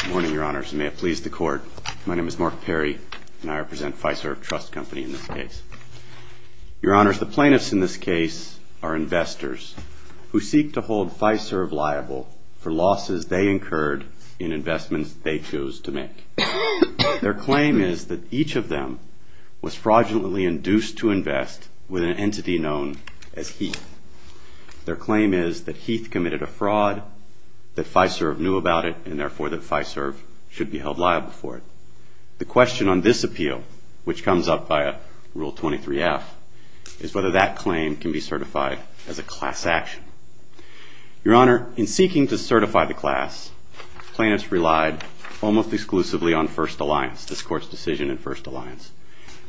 Good morning, your honors, and may it please the court. My name is Mark Perry, and I represent Fiserv Trust Company in this case. Your honors, the plaintiffs in this case are investors who seek to hold Fiserv liable for losses they incurred in investments they choose to make. Their claim is that each of them was fraudulently induced to invest with an entity known as Heath. Their claim is that Heath committed a fraud, that Fiserv knew about it, and therefore that Fiserv should be held liable for it. The question on this appeal, which comes up by a Rule 23-F, is whether that claim can be certified as a class action. Your honor, in seeking to certify the class, plaintiffs relied almost exclusively on First Alliance, this court's decision in First Alliance.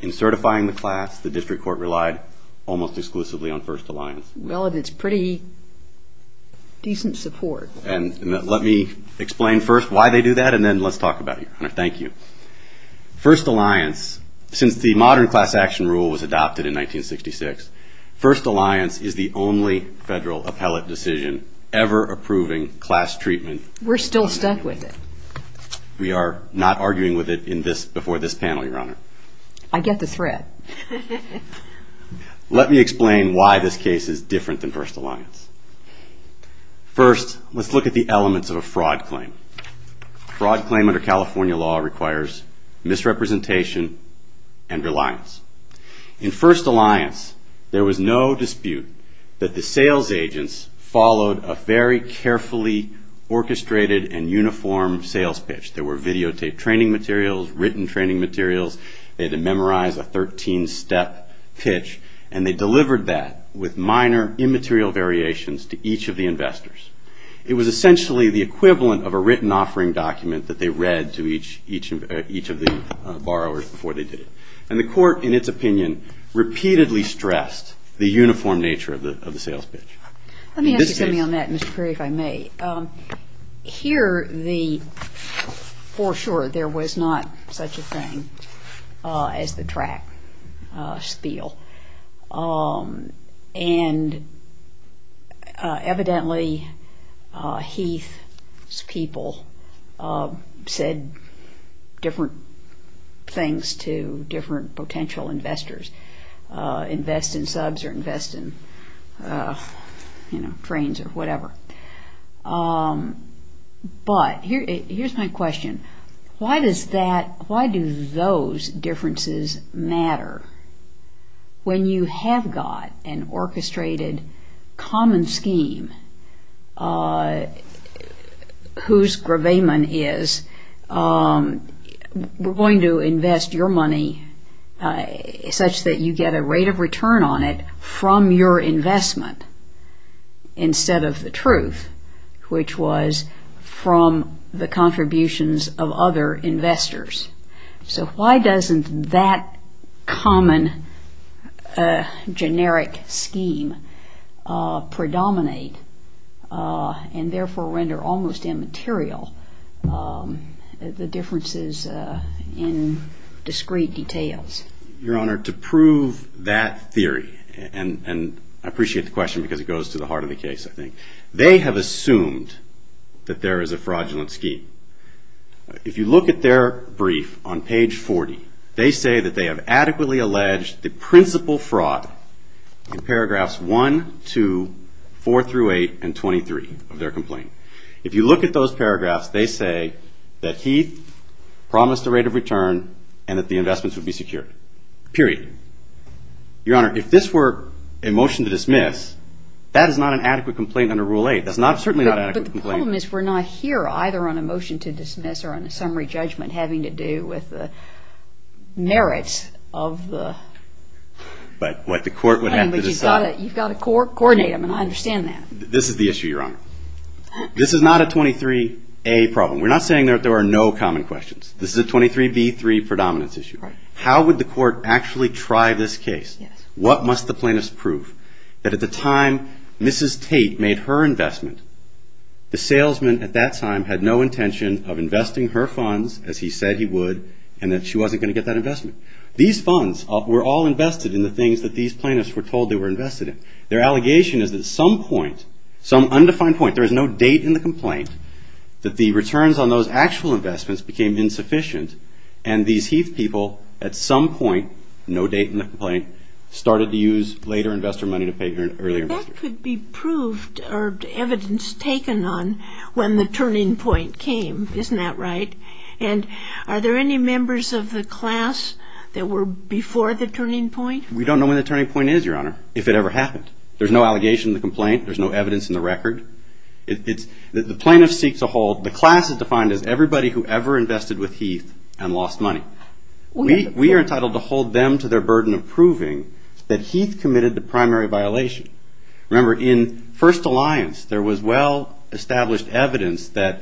In certifying the class, the district court relied almost exclusively on First Alliance. Well, and it's pretty decent support. And let me explain first why they do that, and then let's talk about it. Thank you. First Alliance, since the modern class action rule was adopted in 1966, First Alliance is the only federal appellate decision ever approving class treatment. We're still stuck with it. We are not arguing with it before this panel, your honor. I get the threat. Let me explain why this case is different than First Alliance. First, let's look at the elements of a fraud claim. Fraud claim under California law requires misrepresentation and reliance. In First Alliance, there was no dispute that the sales agents followed a very carefully orchestrated and uniform sales pitch. There were videotaped training materials, written training materials. They had to memorize a 13-step pitch, and they delivered that with minor immaterial variations to each of the investors. It was essentially the equivalent of a written offering document that they read to each of the borrowers before they did it. And the court, in its opinion, repeatedly stressed the uniform nature of the sales pitch. Let me ask you something on that, Mr. Perry, if I may. Here, for sure, there was not such a thing as the track spiel. And evidently, Heath's people said different things to different potential investors, invest in subs or invest in trains or whatever. But here's my question. Why do those differences matter when you have got an orchestrated common scheme whose gravamen is we're going to invest your money such that you get a rate of return on it from your investment instead of the truth, which was from the contributions of other investors? So why doesn't that common generic scheme predominate and therefore render almost immaterial the differences in discrete details? Your Honor, to prove that theory, and I appreciate the question because it goes to the heart of the case, I think, they have assumed that there is a fraudulent scheme. If you look at their brief on page 40, they say that they have adequately alleged the principal fraud in paragraphs 1, 2, 4 through 8, and 23 of their complaint. If you look at those paragraphs, they say that Heath promised a rate of return and that the investments would be secured, period. Your Honor, if this were a motion to dismiss, that is not an adequate complaint under Rule 8. That's certainly not an adequate complaint. But the problem is we're not here either on a motion to dismiss or on a summary judgment having to do with the merits of the. But what the court would have to decide. You've got to coordinate them, and I understand that. This is the issue, Your Honor. This is not a 23A problem. We're not saying that there are no common questions. This is a 23B3 predominance issue. How would the court actually try this case? What must the plaintiffs prove? That at the time Mrs. Tate made her investment, the salesman at that time had no intention of investing her funds, as he said he would, and that she wasn't going to get that investment. These funds were all invested in the things that these plaintiffs were told they were invested in. Their allegation is that at some point, some undefined point, there is no date in the complaint, that the returns on those actual investments became insufficient. And these heath people, at some point, no date in the complaint, started to use later investor money to pay earlier investors. That could be proved or evidence taken on when the turning point came. Isn't that right? And are there any members of the class that were before the turning point? We don't know when the turning point is, Your Honor, if it ever happened. There's no allegation in the complaint. There's no evidence in the record. The plaintiff seeks a hold. The class is defined as everybody who ever invested with Heath and lost money. We are entitled to hold them to their burden of proving that Heath committed the primary violation. Remember, in First Alliance, there was well-established evidence that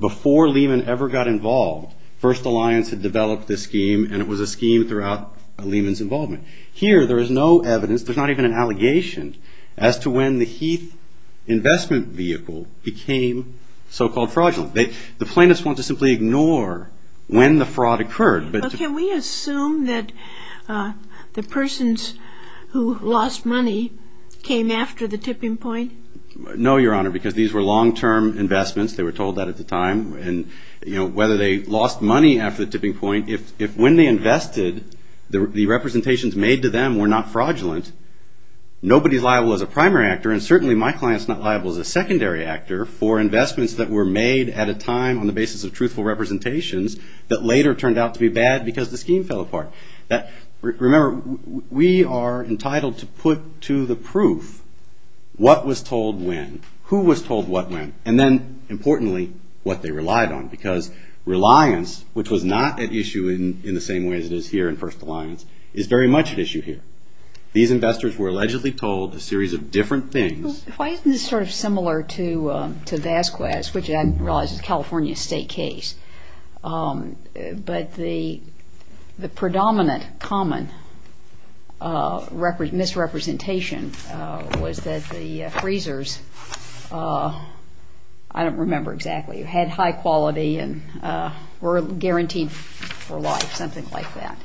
before Lehman ever got involved, First Alliance had developed this scheme, and it was a scheme throughout Lehman's involvement. Here, there is no evidence, there's not even an allegation, as to when the Heath investment vehicle became so-called fraudulent. The plaintiffs want to simply ignore when the fraud occurred. But can we assume that the persons who lost money came after the tipping point? No, Your Honor, because these were long-term investments. They were told that at the time. And whether they lost money after the tipping point, if when they invested, the representations made to them were not fraudulent, nobody's liable as a primary actor, and certainly my client's not liable as a secondary actor for investments that were made at a time on the basis of truthful representations that later turned out to be bad because the scheme fell apart. Remember, we are entitled to put to the proof what was told when, who was told what when, and then, importantly, what they relied on. Because reliance, which was not at issue in the same way as it is here in First Alliance, is very much at issue here. These investors were allegedly told a series of different things. Why isn't this sort of similar to Vasquez, which I realize is a California state case? But the predominant common misrepresentation was that the freezers, I don't remember exactly, had high quality and were guaranteed for life, something like that.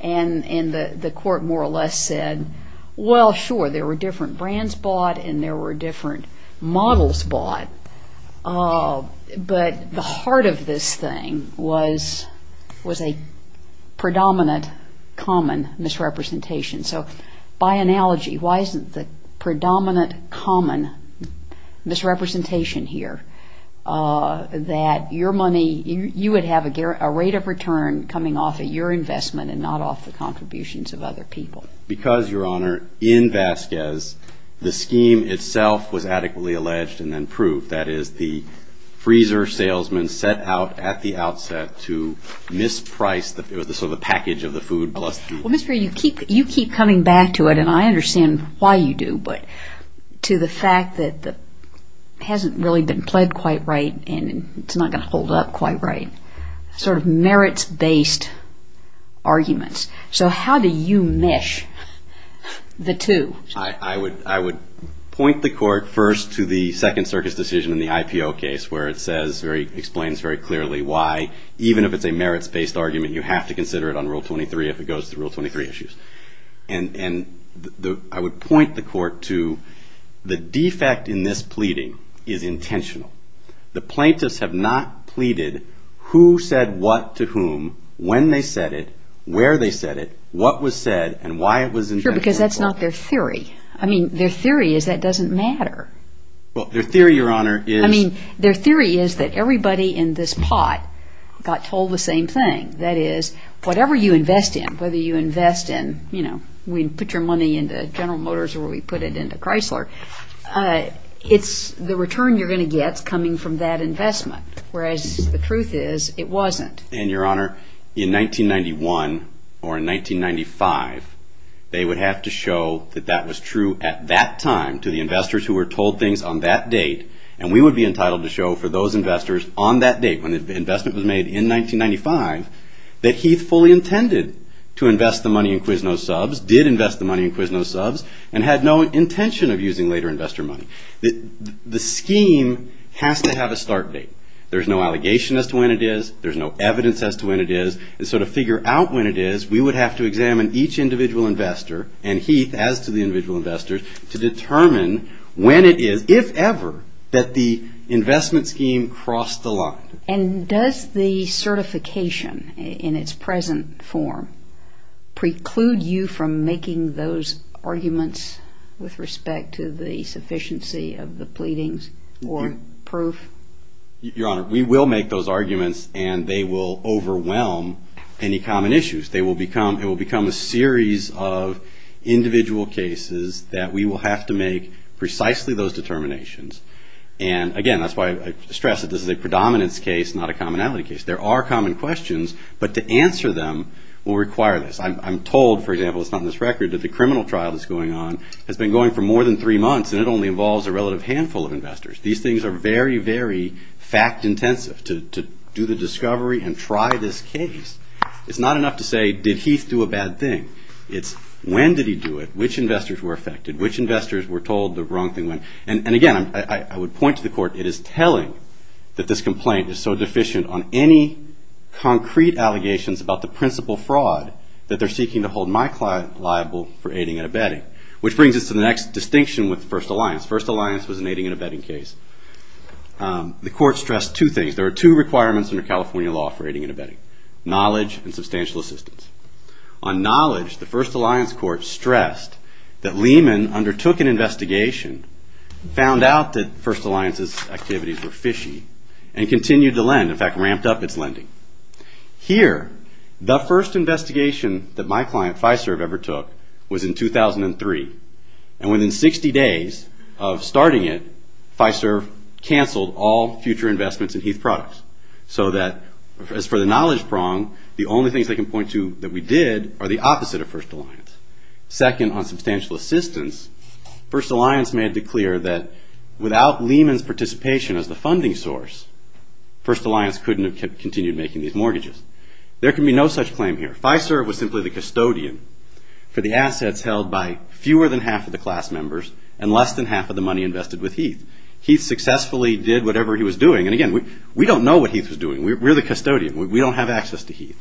And the court more or less said, well, sure, there were different brands bought and there were different models bought. But the heart of this thing was a predominant common misrepresentation. So by analogy, why isn't the predominant common misrepresentation here that you would have a rate of return coming off of your investment and not off the contributions of other people? Because, Your Honor, in Vasquez, the scheme itself was adequately alleged and then proved. That is, the freezer salesman set out at the outset to misprice the sort of package of the food plus the- Well, Mr. Ray, you keep coming back to it, and I understand why you do, but to the fact that it hasn't really been played quite right and it's not going to hold up quite right, sort of merits-based arguments. So how do you mish the two? I would point the court first to the Second Circus decision in the IPO case, where it explains very clearly why, even if it's a merits-based argument, you have to consider it on Rule 23 if it goes through Rule 23 issues. And I would point the court to the defect in this pleading is intentional. The plaintiffs have not pleaded who said what to whom, when they said it, where they said it, what was said, and why it was intentional. Sure, because that's not their theory. I mean, their theory is that doesn't matter. Well, their theory, Your Honor, is- I mean, their theory is that everybody in this pot got told the same thing. That is, whatever you invest in, whether you invest in, you know, we put your money into General Motors or we put it into Chrysler, it's the return you're going to get coming from that investment, whereas the truth is it wasn't. And, Your Honor, in 1991 or in 1995, they would have to show that that was true at that time to the investors who were told things on that date. And we would be entitled to show for those investors on that date, when the investment was made in 1995, that Heath fully intended to invest the money in Quiznos subs, did invest the money in Quiznos subs, and had no intention of using later investor money. The scheme has to have a start date. There's no allegation as to when it is. There's no evidence as to when it is. And so to figure out when it is, we would have to examine each individual investor, and Heath as to the individual investors, to determine when it is, if ever, that the investment scheme crossed the line. And does the certification in its present form preclude you from making those arguments with respect to the sufficiency of the pleadings or proof? Your Honor, we will make those arguments and they will overwhelm any common issues. They will become, it will become a series of individual cases that we will have to make precisely those determinations. And again, that's why I stress that this is a predominance case, not a commonality case. There are common questions, but to answer them will require this. I'm told, for example, it's not in this record, that the criminal trial that's going on has been going for more than three months and it only involves a relative handful of investors. These things are very, very fact-intensive to do the discovery and try this case. It's not enough to say, did Heath do a bad thing? It's, when did he do it? Which investors were affected? Which investors were told the wrong thing went? And again, I would point to the court, it is telling that this complaint is so deficient on any concrete allegations about the principal fraud that they're seeking to hold my client liable for aiding and abetting, which brings us to the next distinction with First Alliance. First Alliance was an aiding and abetting case. The court stressed two things. There are two requirements under California law for aiding and abetting, knowledge and substantial assistance. On knowledge, the First Alliance court stressed that Lehman undertook an investigation, found out that First Alliance's activities were fishy, and continued to lend, in fact, ramped up its lending. Here, the first investigation that my client, Fiserv, ever took was in 2003. And within 60 days of starting it, Fiserv canceled all future investments in Heath products. So that, as for the knowledge prong, the only things they can point to that we did are the opposite of First Alliance. Second, on substantial assistance, First Alliance made it clear that without Lehman's participation as the funding source, First Alliance couldn't have continued making these mortgages. There can be no such claim here. Fiserv was simply the custodian for the assets held by fewer than half of the class members and less than half of the money invested with Heath. Heath successfully did whatever he was doing. And again, we don't know what Heath was doing. We're the custodian. We don't have access to Heath.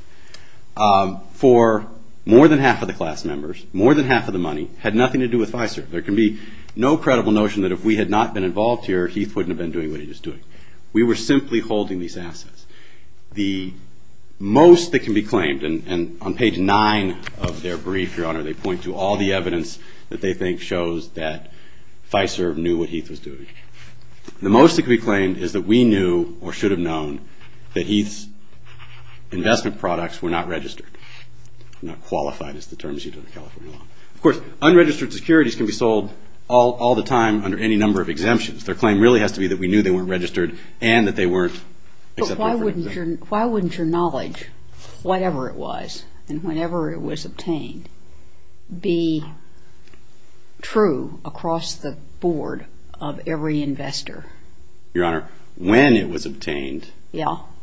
For more than half of the class members, more than half of the money, had nothing to do with Fiserv. There can be no credible notion that if we had not been involved here, Heath wouldn't have been doing what he was doing. We were simply holding these assets. The most that can be claimed, and on page nine of their brief, Your Honor, they point to all the evidence that they think shows that Fiserv knew what Heath was doing. The most that can be claimed is that we knew, or should have known, that Heath's investment products were not registered. Not qualified is the term used in the California law. Of course, unregistered securities can be sold all the time under any number of exemptions. Their claim really has to be that we knew they weren't registered and that they weren't accepted. But why wouldn't your knowledge, whatever it was and whenever it was obtained, be true across the board of every investor? Your Honor, when it was obtained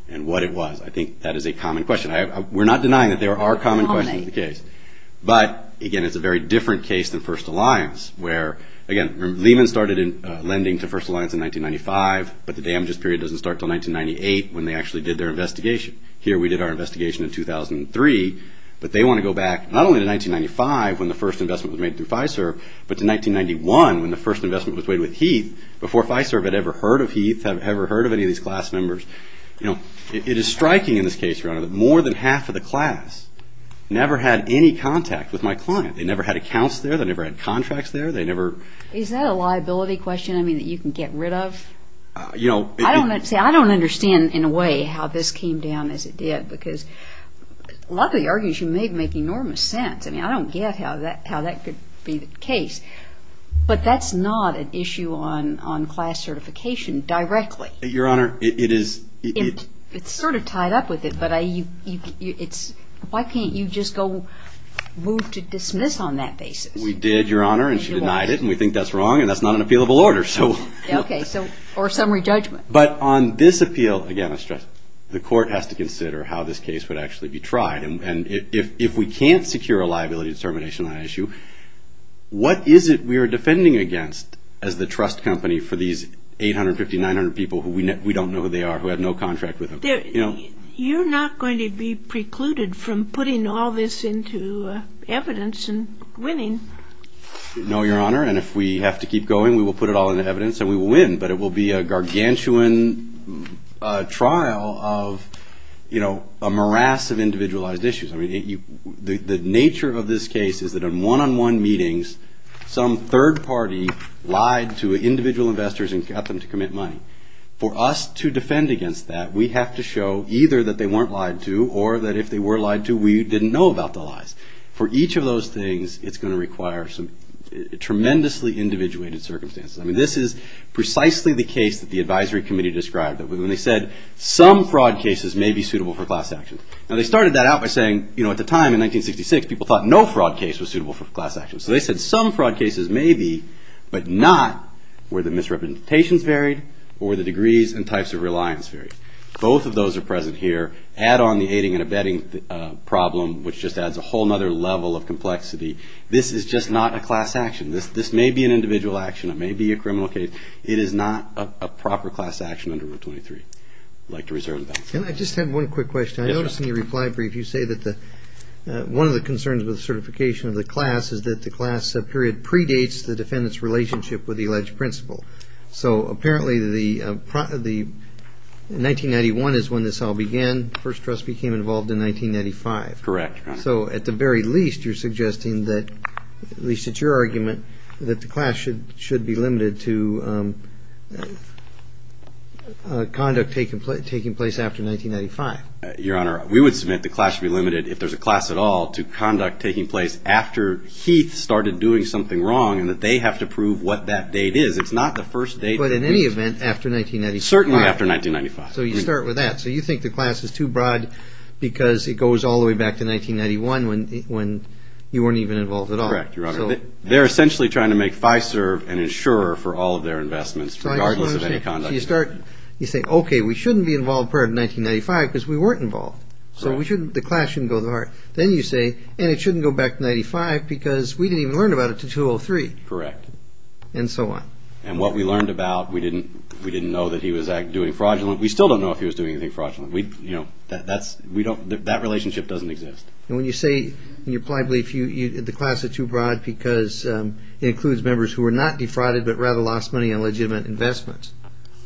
and what it was, I think that is a common question. We're not denying that there are common questions in the case. But, again, it's a very different case than First Alliance, where, again, Lehman started lending to First Alliance in 1995, but the damages period doesn't start until 1998 when they actually did their investigation. Here, we did our investigation in 2003, but they want to go back not only to 1995 when the first investment was made through Fiserv, but to 1991 when the first investment was made with Heath before Fiserv had ever heard of Heath, had ever heard of any of these class members. You know, it is striking in this case, Your Honor, that more than half of the class never had any contact with my client. They never had accounts there. They never had contracts there. They never... Is that a liability question, I mean, that you can get rid of? You know... I don't understand, in a way, how this came down as it did because a lot of the arguments you made make enormous sense. I mean, I don't get how that could be the case, but that's not an issue on class certification directly. Your Honor, it is... It's sort of tied up with it, but why can't you just go move to dismiss on that basis? We did, Your Honor, and she denied it, and we think that's wrong, and that's not an appealable order, so... Okay, so, or summary judgment. But on this appeal, again, I stress, the court has to consider how this case would actually be tried. And if we can't secure a liability determination on that issue, what is it we are defending against as the trust company for these 850, 900 people who we don't know who they are, who have no contract with them? You're not going to be precluded from putting all this into evidence and winning. No, Your Honor, and if we have to keep going, we will put it all into evidence and we will win, but it will be a gargantuan trial of, you know, a morass of individualized issues. I mean, the nature of this case is that in one-on-one meetings, some third party lied to individual investors and got them to commit money. For us to defend against that, we have to show either that they weren't lied to or that if they were lied to, we didn't know about the lies. For each of those things, it's going to require some tremendously individuated circumstances. I mean, this is precisely the case that the advisory committee described, that when they said some fraud cases may be suitable for class action. Now, they started that out by saying, you know, at the time in 1966, people thought no fraud case was suitable for class action. So, they said some fraud cases may be, but not where the misrepresentations varied or the degrees and types of reliance varied. Both of those are present here. Add on the aiding and abetting problem, which just adds a whole other level of complexity. This is just not a class action. This may be an individual action. It may be a criminal case. It is not a proper class action under Rule 23. I'd like to reserve that. And I just have one quick question. I noticed in your reply brief, you say that one of the concerns with certification of the class is that the class period predates the defendant's relationship with the alleged principal. So, apparently, 1991 is when this all began. First Trust became involved in 1995. Correct. So, at the very least, you're suggesting that, at least it's your argument, that the class should be limited to conduct taking place after 1995. Your Honor, we would submit the class to be limited, if there's a class at all, to conduct taking place after Heath started doing something wrong and that they have to prove what that date is. It's not the first date. But, in any event, after 1995. Certainly after 1995. So, you start with that. So, you think the class is too broad because it goes all the way back to 1991 when you weren't even involved at all. Correct, Your Honor. They're essentially trying to make FISERV an insurer for all of their investments regardless of any conduct. You say, okay, we shouldn't be involved prior to 1995 because we weren't involved. So, the class shouldn't go that far. Then you say, and it shouldn't go back to 1995 because we didn't even learn about it until 2003. Correct. And so on. And what we learned about, we didn't know that he was doing fraudulent. We still don't know if he was doing anything fraudulent. That relationship doesn't exist. And when you say, in your plied belief, the class is too broad because it includes members who were not defrauded but rather lost money on legitimate investments.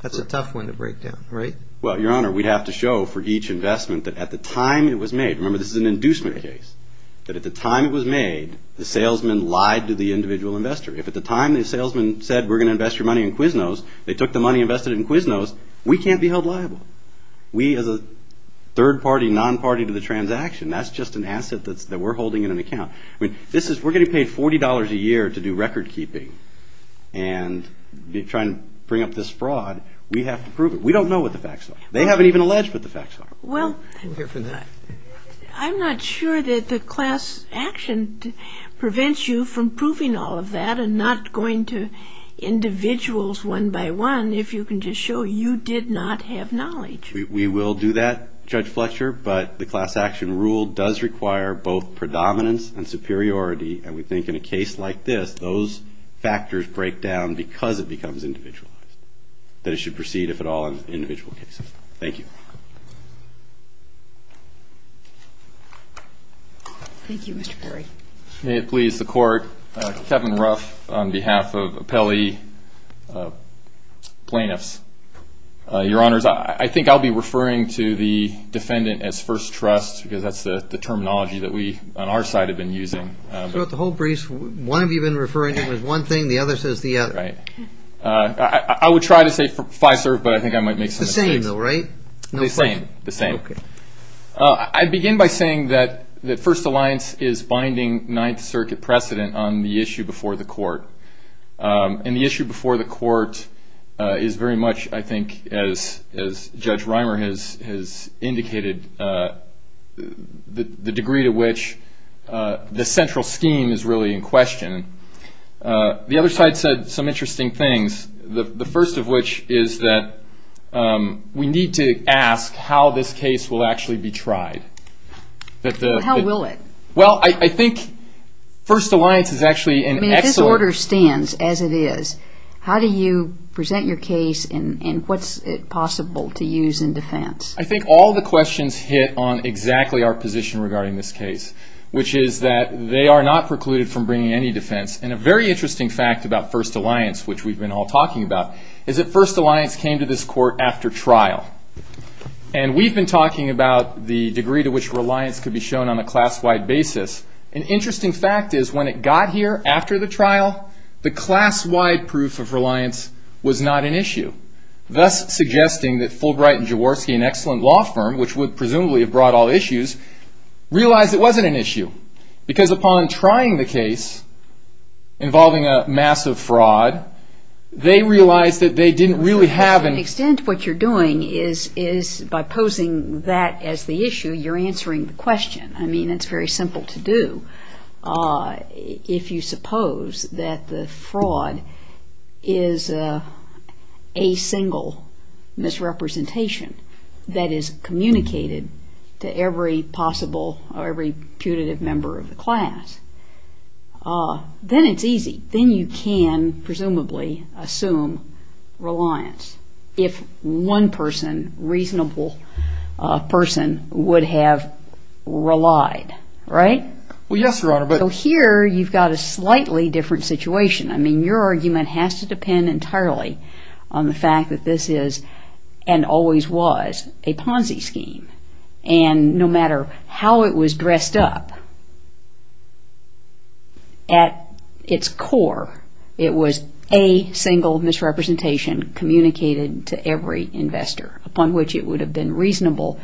That's a tough one to break down, right? Well, Your Honor, we'd have to show for each investment that at the time it was made, remember this is an inducement case, that at the time it was made, the salesman lied to the individual investor. If at the time the salesman said, we're gonna invest your money in Quiznos, they took the money invested in Quiznos, we can't be held liable. We, as a third party, non-party to the transaction, that's just an asset that we're holding in an account. I mean, we're getting paid $40 a year to do record keeping and be trying to bring up this fraud. We have to prove it. We don't know what the facts are. They haven't even alleged what the facts are. Well, I'm not sure that the class action prevents you from proving all of that and not going to individuals one by one if you can just show you did not have knowledge. We will do that, Judge Fletcher, but the class action rule does require both predominance and superiority, and we think in a case like this, those factors break down because it becomes individualized, that it should proceed, if at all, in individual cases. Thank you. Thank you, Mr. Perry. May it please the Court, Kevin Ruff on behalf of Appelli Plaintiffs. Your Honors, I think I'll be referring to the defendant as first trust because that's the terminology that we, on our side, have been using. Throughout the whole brief, one of you have been referring to it as one thing, the other says the other. Right. I would try to say five-serve, but I think I might make some mistakes. It's the same, though, right? No question. The same, the same. I begin by saying that First Alliance is binding Ninth Circuit precedent on the issue before the Court, and the issue before the Court is very much, I think, as Judge Reimer has indicated, the degree to which the central scheme is really in question. The other side said some interesting things, the first of which is that we need to ask how this case will actually be tried. How will it? Well, I think First Alliance is actually an excellent... I mean, if this order stands as it is, how do you present your case, and what's it possible to use in defense? I think all the questions hit on exactly our position regarding this case, which is that they are not precluded from bringing any defense, and a very interesting fact about First Alliance, which we've been all talking about, is that First Alliance came to this Court after trial, and we've been talking about the degree to which reliance could be shown on a class-wide basis. An interesting fact is when it got here after the trial, the class-wide proof of reliance was not an issue, thus suggesting that Fulbright and Jaworski, an excellent law firm, which would presumably have brought all issues, realized it wasn't an issue, because upon trying the case involving a massive fraud, they realized that they didn't really have an... To an extent, what you're doing is, by posing that as the issue, you're answering the question. I mean, it's very simple to do if you suppose that the fraud is a single misrepresentation that is communicated to every possible, or every putative member of the class. Then it's easy. Then you can, presumably, assume reliance if one person, reasonable person, would have relied, right? Well, yes, Your Honor, but... So here, you've got a slightly different situation. I mean, your argument has to depend entirely on the fact that this is, and always was, a Ponzi scheme. And no matter how it was dressed up, at its core, it was a single misrepresentation communicated to every investor, upon which it would have been reasonable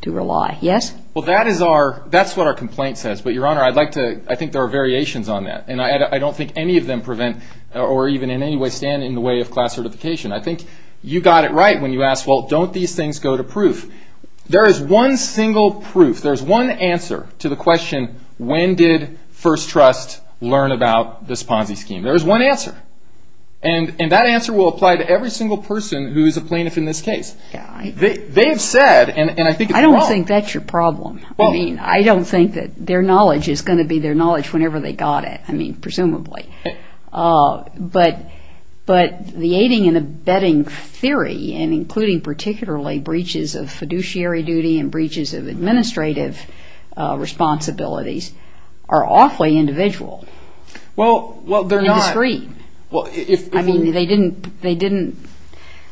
to rely. Yes? Well, that is our, that's what our complaint says, but Your Honor, I'd like to, I think there are variations on that. And I don't think any of them prevent, or even in any way stand in the way of class certification. I think you got it right when you asked, well, don't these things go to proof? There is one single proof. There's one answer to the question, when did First Trust learn about this Ponzi scheme? There is one answer. And that answer will apply to every single person who is a plaintiff in this case. They've said, and I think it's wrong. I don't think that's your problem. I mean, I don't think that their knowledge is gonna be their knowledge whenever they got it, I mean, presumably. But the aiding and abetting theory, and including particularly breaches of fiduciary duty and breaches of administrative responsibilities, are awfully individual. Well, well, they're not. They're indiscreet. Well, if. I mean, they didn't, they didn't,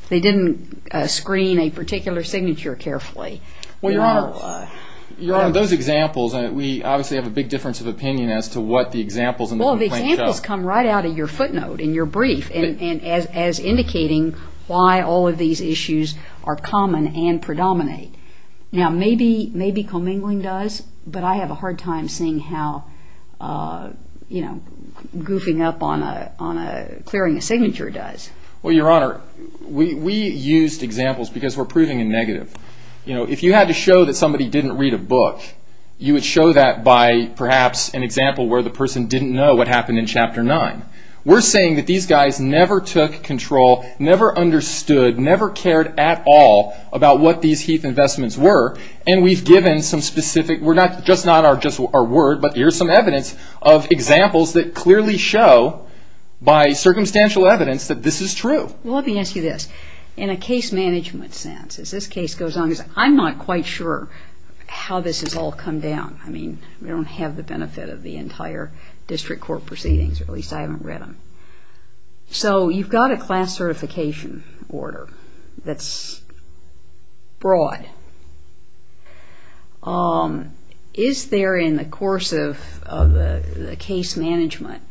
they didn't screen a particular signature carefully. Well, Your Honor, Your Honor, those examples, we obviously have a big difference of opinion as to what the examples in the complaint show. Well, the examples come right out of your footnote in your brief, and as indicating why all of these issues are common and predominate. Now, maybe commingling does, but I have a hard time seeing how, you know, goofing up on a, clearing a signature does. Well, Your Honor, we used examples because we're proving a negative. You know, if you had to show that somebody didn't read a book, you would show that by, perhaps, an example where the person didn't know what happened in chapter nine. We're saying that these guys never took control, never understood, never cared at all about what these Heath investments were, and we've given some specific, we're not, just not our word, but here's some evidence of examples that clearly show, by circumstantial evidence, that this is true. Well, let me ask you this. In a case management sense, as this case goes on, I'm not quite sure how this has all come down. I mean, we don't have the benefit of the entire district court proceedings, or at least I haven't read them. So, you've got a class certification order that's broad. Is there, in the course of the case management,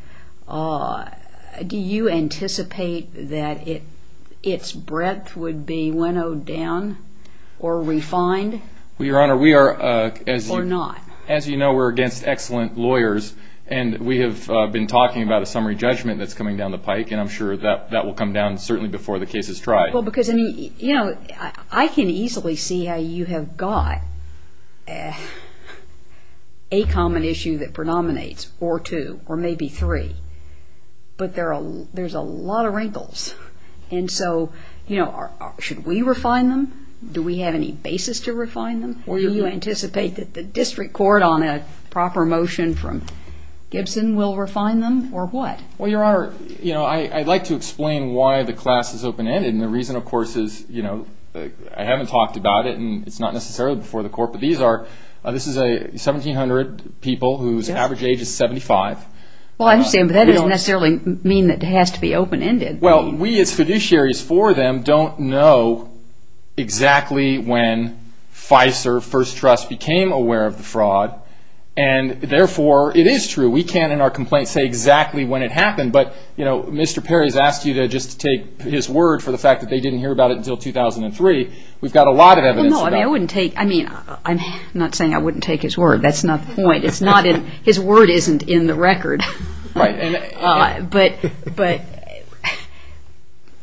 do you anticipate that its breadth would be winnowed down or refined? Well, Your Honor, we are, as you know, we're against excellent lawyers, and we have been talking about a summary judgment that's coming down the pike, and I'm sure that will come down certainly before the case is tried. Well, because, I mean, you know, I can easily see how you have got a common issue that predominates, or two, or maybe three, but there's a lot of wrinkles. And so, you know, should we refine them? Do we have any basis to refine them? Or do you anticipate that the district court on a proper motion from Gibson will refine them, or what? Well, Your Honor, you know, I'd like to explain why the class is open-ended, and the reason, of course, is, you know, I haven't talked about it, and it's not necessarily before the court, but these are, this is 1,700 people whose average age is 75. Well, I understand, but that doesn't necessarily mean that it has to be open-ended. Well, we as fiduciaries for them don't know exactly when FISER, First Trust, became aware of the fraud, and therefore it is true. We can't in our complaint say exactly when it happened, but, you know, Mr. Perry has asked you to just take his word for the fact that they didn't hear about it until 2003. We've got a lot of evidence about it. Well, no, I mean, I wouldn't take, I mean, I'm not saying I wouldn't take his word. That's not the point. It's not in, his word isn't in the record. Right, and. But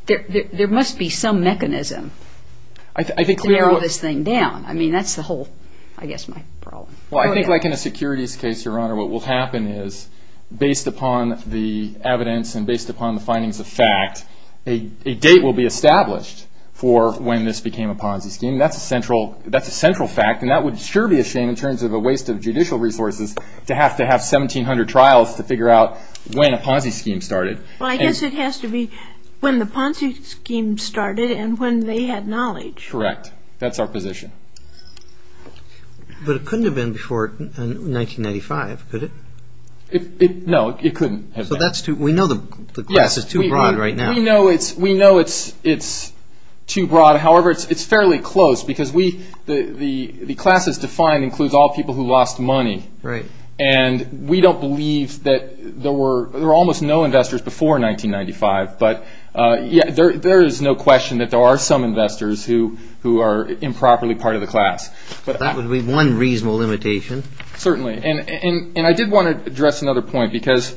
there must be some mechanism to narrow this thing down. I mean, that's the whole, I guess, my problem. Well, I think like in a securities case, Your Honor, what will happen is, based upon the evidence and based upon the findings of fact, a date will be established for when this became a Ponzi scheme. That's a central fact, and that would sure be a shame in terms of a waste of judicial resources to have to have 1,700 trials to figure out when a Ponzi scheme started. Well, I guess it has to be when the Ponzi scheme started and when they had knowledge. Correct, that's our position. But it couldn't have been before 1995, could it? No, it couldn't have been. So that's too, we know the class is too broad right now. We know it's too broad. However, it's fairly close because we, the class as defined includes all people who lost money. Right. And we don't believe that there were, there were almost no investors before 1995, but yeah, there is no question that there are some investors who are improperly part of the class. But that would be one reasonable limitation. Certainly, and I did want to address another point because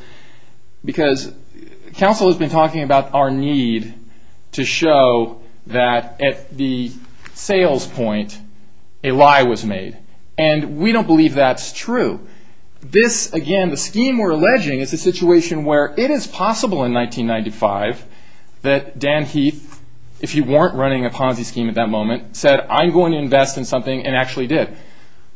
counsel has been talking about our need to show that at the sales point, a lie was made. And we don't believe that's true. This, again, the scheme we're alleging is a situation where it is possible in 1995 that Dan Heath, if you weren't running a Ponzi scheme at that moment, said, I'm going to invest in something and actually did.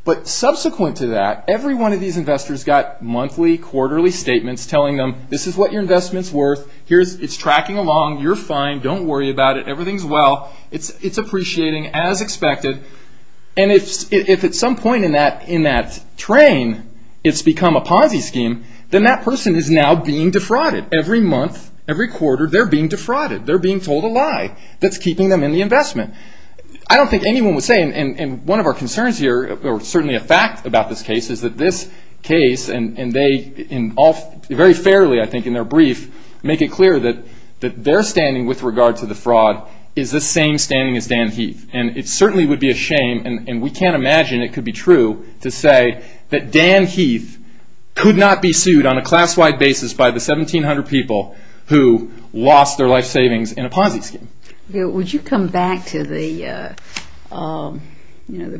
But subsequent to that, every one of these investors got monthly, quarterly statements telling them, this is what your investment's worth. It's tracking along, you're fine, don't worry about it. Everything's well, it's appreciating as expected. And if at some point in that train, it's become a Ponzi scheme, then that person is now being defrauded. Every month, every quarter, they're being defrauded. They're being told a lie that's keeping them in the investment. I don't think anyone would say, and one of our concerns here, or certainly a fact about this case, is that this case and they in all, very fairly, I think in their brief, make it clear that their standing with regard to the fraud is the same standing as Dan Heath. And it certainly would be a shame, and we can't imagine it could be true, to say that Dan Heath could not be sued on a class-wide basis by the 1,700 people who lost their life savings in a Ponzi scheme. Would you come back to the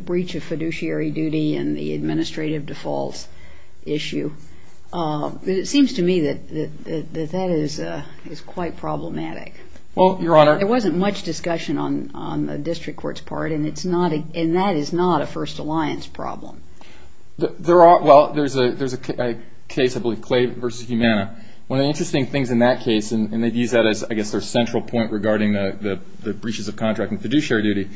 breach of fiduciary duty and the administrative defaults issue? It seems to me that that is quite problematic. Well, Your Honor. There wasn't much discussion on the district court's part, and that is not a First Alliance problem. Well, there's a case, I believe, Clay v. Humana. One of the interesting things in that case, and they've used that as, I guess, their central point regarding the breaches of contract and fiduciary duty,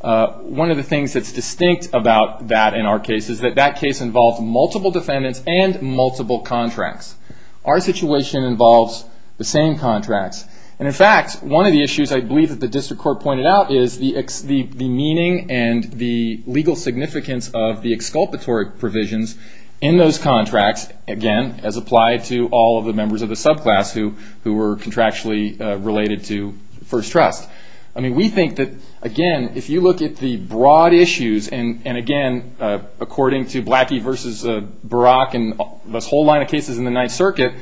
one of the things that's distinct about that in our case is that that case involved multiple defendants and multiple contracts. Our situation involves the same contracts. And in fact, one of the issues I believe that the district court pointed out is the meaning and the legal significance of the exculpatory provisions in those contracts, again, as applied to all of the members of the subclass who were contractually related to First Trust. I mean, we think that, again, if you look at the broad issues, and again, according to Blackie v. Barak and this whole line of cases in the Ninth Circuit,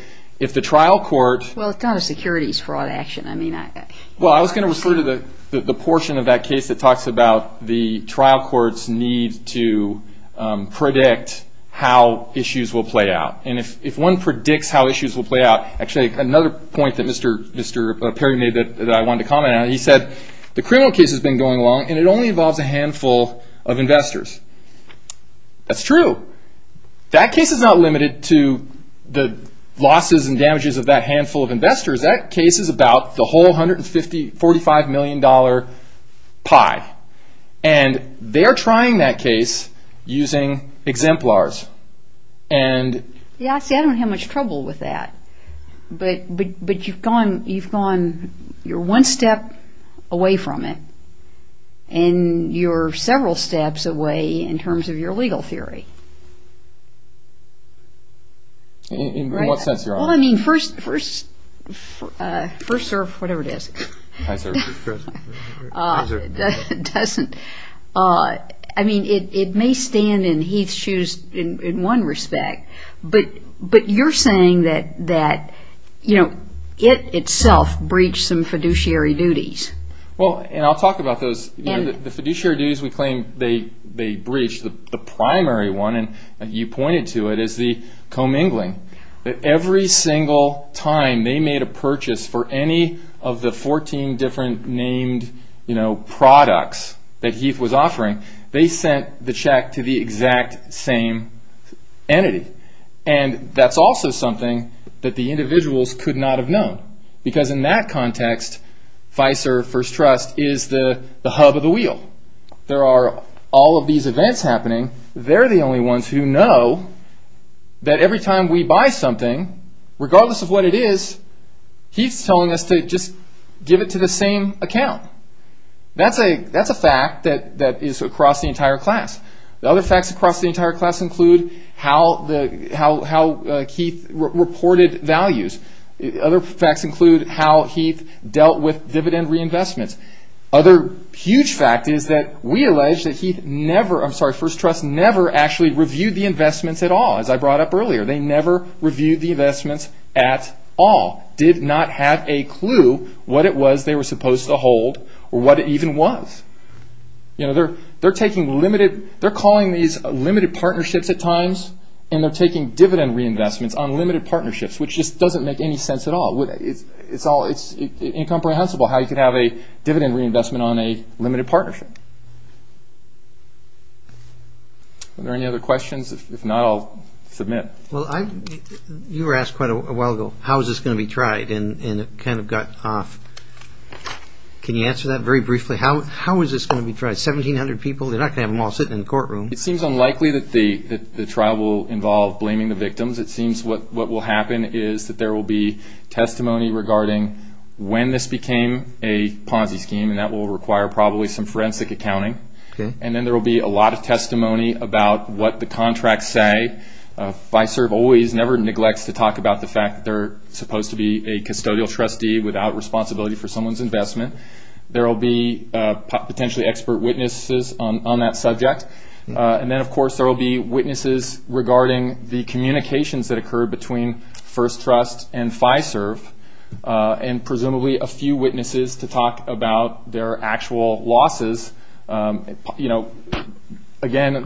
if the trial court... Well, it's not a securities fraud action. I mean, I... Well, I was gonna refer to the portion of that case that talks about the trial court's need to predict how issues will play out. And if one predicts how issues will play out, actually, another point that Mr. Perry made that I wanted to comment on, he said, the criminal case has been going along and it only involves a handful of investors. That's true. That case is not limited to the losses and damages of that handful of investors. That case is about the whole $145 million pie. And they're trying that case using exemplars. And... Yeah, see, I don't have much trouble with that. But you've gone, you're one step away from it and you're several steps away in terms of your legal theory. In what sense, Your Honor? Well, I mean, first, first, first serve, whatever it is. Hi, sir. Hi, sir. Doesn't, I mean, it may stand in Heath's shoes in one respect, but you're saying that, you know, it itself breached some fiduciary duties. Well, and I'll talk about those. The fiduciary duties, we claim they breached. The primary one, and you pointed to it, is the commingling. That every single time they made a purchase for any of the 14 different named products that Heath was offering, they sent the check to the exact same entity. And that's also something that the individuals could not have known. Because in that context, FISR, First Trust, is the hub of the wheel. There are all of these events happening. They're the only ones who know that every time we buy something, regardless of what it is, Heath's telling us to just give it to the same account. That's a fact that is across the entire class. The other facts across the entire class include how Heath reported values. Other facts include how Heath dealt with dividend reinvestments. Other huge fact is that we allege that Heath never, I'm sorry, First Trust never actually reviewed the investments at all, as I brought up earlier. They never reviewed the investments at all. Did not have a clue what it was they were supposed to hold, or what it even was. They're calling these limited partnerships at times, and they're taking dividend reinvestments on limited partnerships, which just doesn't make any sense at all. It's incomprehensible how you could have a dividend reinvestment on a limited partnership. Okay. Are there any other questions? If not, I'll submit. Well, you were asked quite a while ago, how is this gonna be tried? And it kind of got off. Can you answer that very briefly? How is this gonna be tried? 1,700 people, they're not gonna have them all sitting in the courtroom. It seems unlikely that the trial will involve blaming the victims. It seems what will happen is that there will be testimony regarding when this became a Ponzi scheme, and that will require probably some forensic accounting. And then there will be a lot of testimony about what the contracts say. FISERV always, never neglects to talk about the fact that they're supposed to be a custodial trustee without responsibility for someone's investment. There will be potentially expert witnesses on that subject. And then, of course, there will be witnesses regarding the communications that occurred between First Trust and FISERV, and presumably a few witnesses to talk about their actual losses. Again,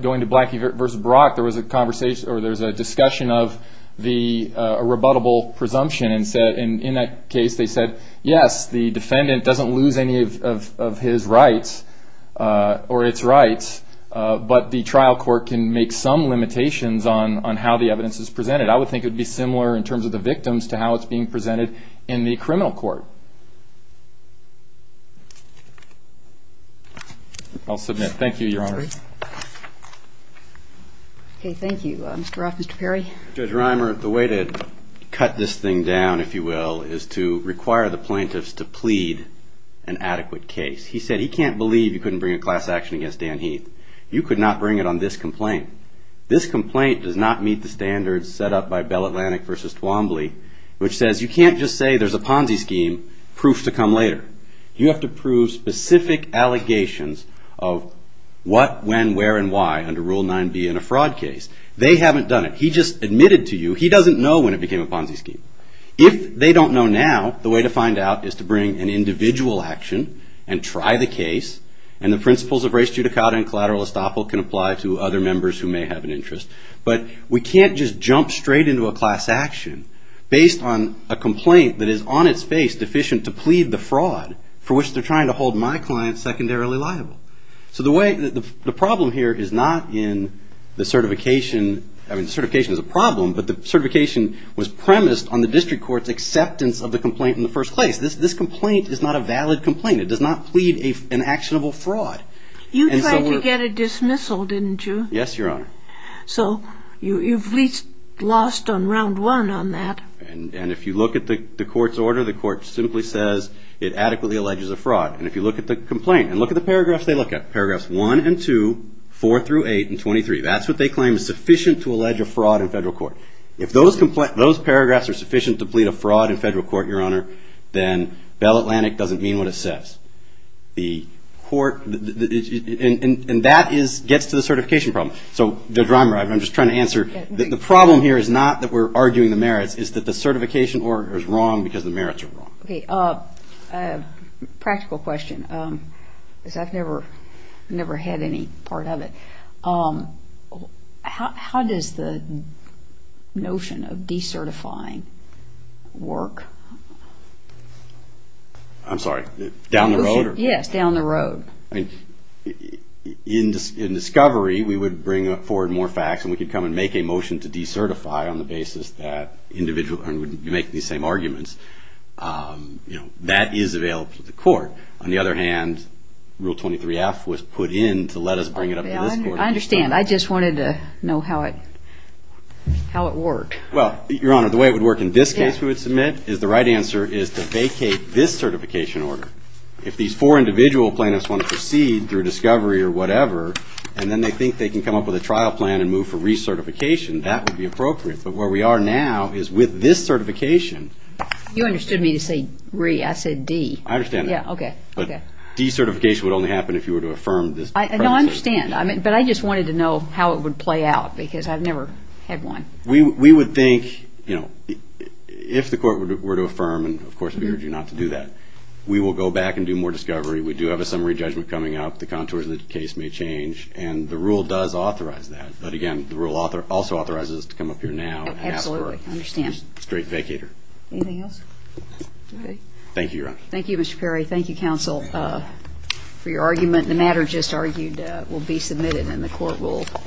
going to Blackie versus Brock, there was a conversation, or there's a discussion of the rebuttable presumption, and in that case, they said, yes, the defendant doesn't lose any of his rights, or its rights, but the trial court can make some limitations on how the evidence is presented. I would think it would be similar in terms of the victims to how it's being presented in the criminal court. I'll submit. Thank you, Your Honor. OK, thank you. Mr. Roth, Mr. Perry. Judge Reimer, the way to cut this thing down, if you will, is to require the plaintiffs to plead an adequate case. He said he can't believe you couldn't bring a class action against Dan Heath. You could not bring it on this complaint. This complaint does not meet the standards set up by Bell Atlantic versus Twombly, which says you can't just say there's a Ponzi scheme, proof to come later. You have to prove specific allegations of what, when, where, and why, under Rule 9b in a fraud case. They haven't done it. He just admitted to you, he doesn't know when it became a Ponzi scheme. If they don't know now, the way to find out is to bring an individual action and try the case, and the principles of res judicata and collateral estoppel can apply to other members who may have an interest. But we can't just jump straight into a class action based on a complaint that is, on its face, deficient to plead the fraud for which they're trying to hold my client secondarily liable. So the problem here is not in the certification. I mean, the certification is a problem, but the certification was premised on the district court's acceptance of the complaint in the first place. This complaint is not a valid complaint. It does not plead an actionable fraud. You tried to get a dismissal, didn't you? Yes, Your Honor. So you've lost on round one on that. And if you look at the court's order, the court simply says it adequately alleges a fraud. And if you look at the complaint, and look at the paragraphs they look at, paragraphs 1 and 2, 4 through 8, and 23, that's what they claim is sufficient to allege a fraud in federal court. If those paragraphs are sufficient to plead a fraud in federal court, Your Honor, then Bell Atlantic doesn't mean what it says. The court, and that gets to the certification problem. So, Judge Reimer, I'm just trying to answer. The problem here is not that we're arguing the merits. It's that the certification order is wrong because the merits are wrong. Practical question, because I've never had any part of it. How does the notion of decertifying work? Yes, down the road. I mean, in discovery, we would bring forward more facts. And we could come and make a motion to decertify on the basis that individual, and you make these same arguments. That is available to the court. On the other hand, Rule 23-F was put in to let us bring it up to this court. I understand. I just wanted to know how it worked. Well, Your Honor, the way it would work in this case, we would submit, is the right answer is to vacate this certification order. If these four individual plaintiffs want to proceed through discovery or whatever, and then they think they can come up with a trial plan and move for recertification, that would be appropriate. But where we are now is with this certification. You understood me to say re. I said de. I understand that. Yeah, OK. But decertification would only happen if you were to affirm this. No, I understand. But I just wanted to know how it would play out, because I've never had one. We would think, if the court were to affirm, and of course, we urge you not to do that, we will go back and do more discovery. We do have a summary judgment coming up. The contours of the case may change. And the rule does authorize that. But again, the rule also authorizes us to come up here now and ask for a straight vacator. Anything else? Thank you, Your Honor. Thank you, Mr. Perry. Thank you, counsel, for your argument. The matter just argued will be submitted, and the court will be.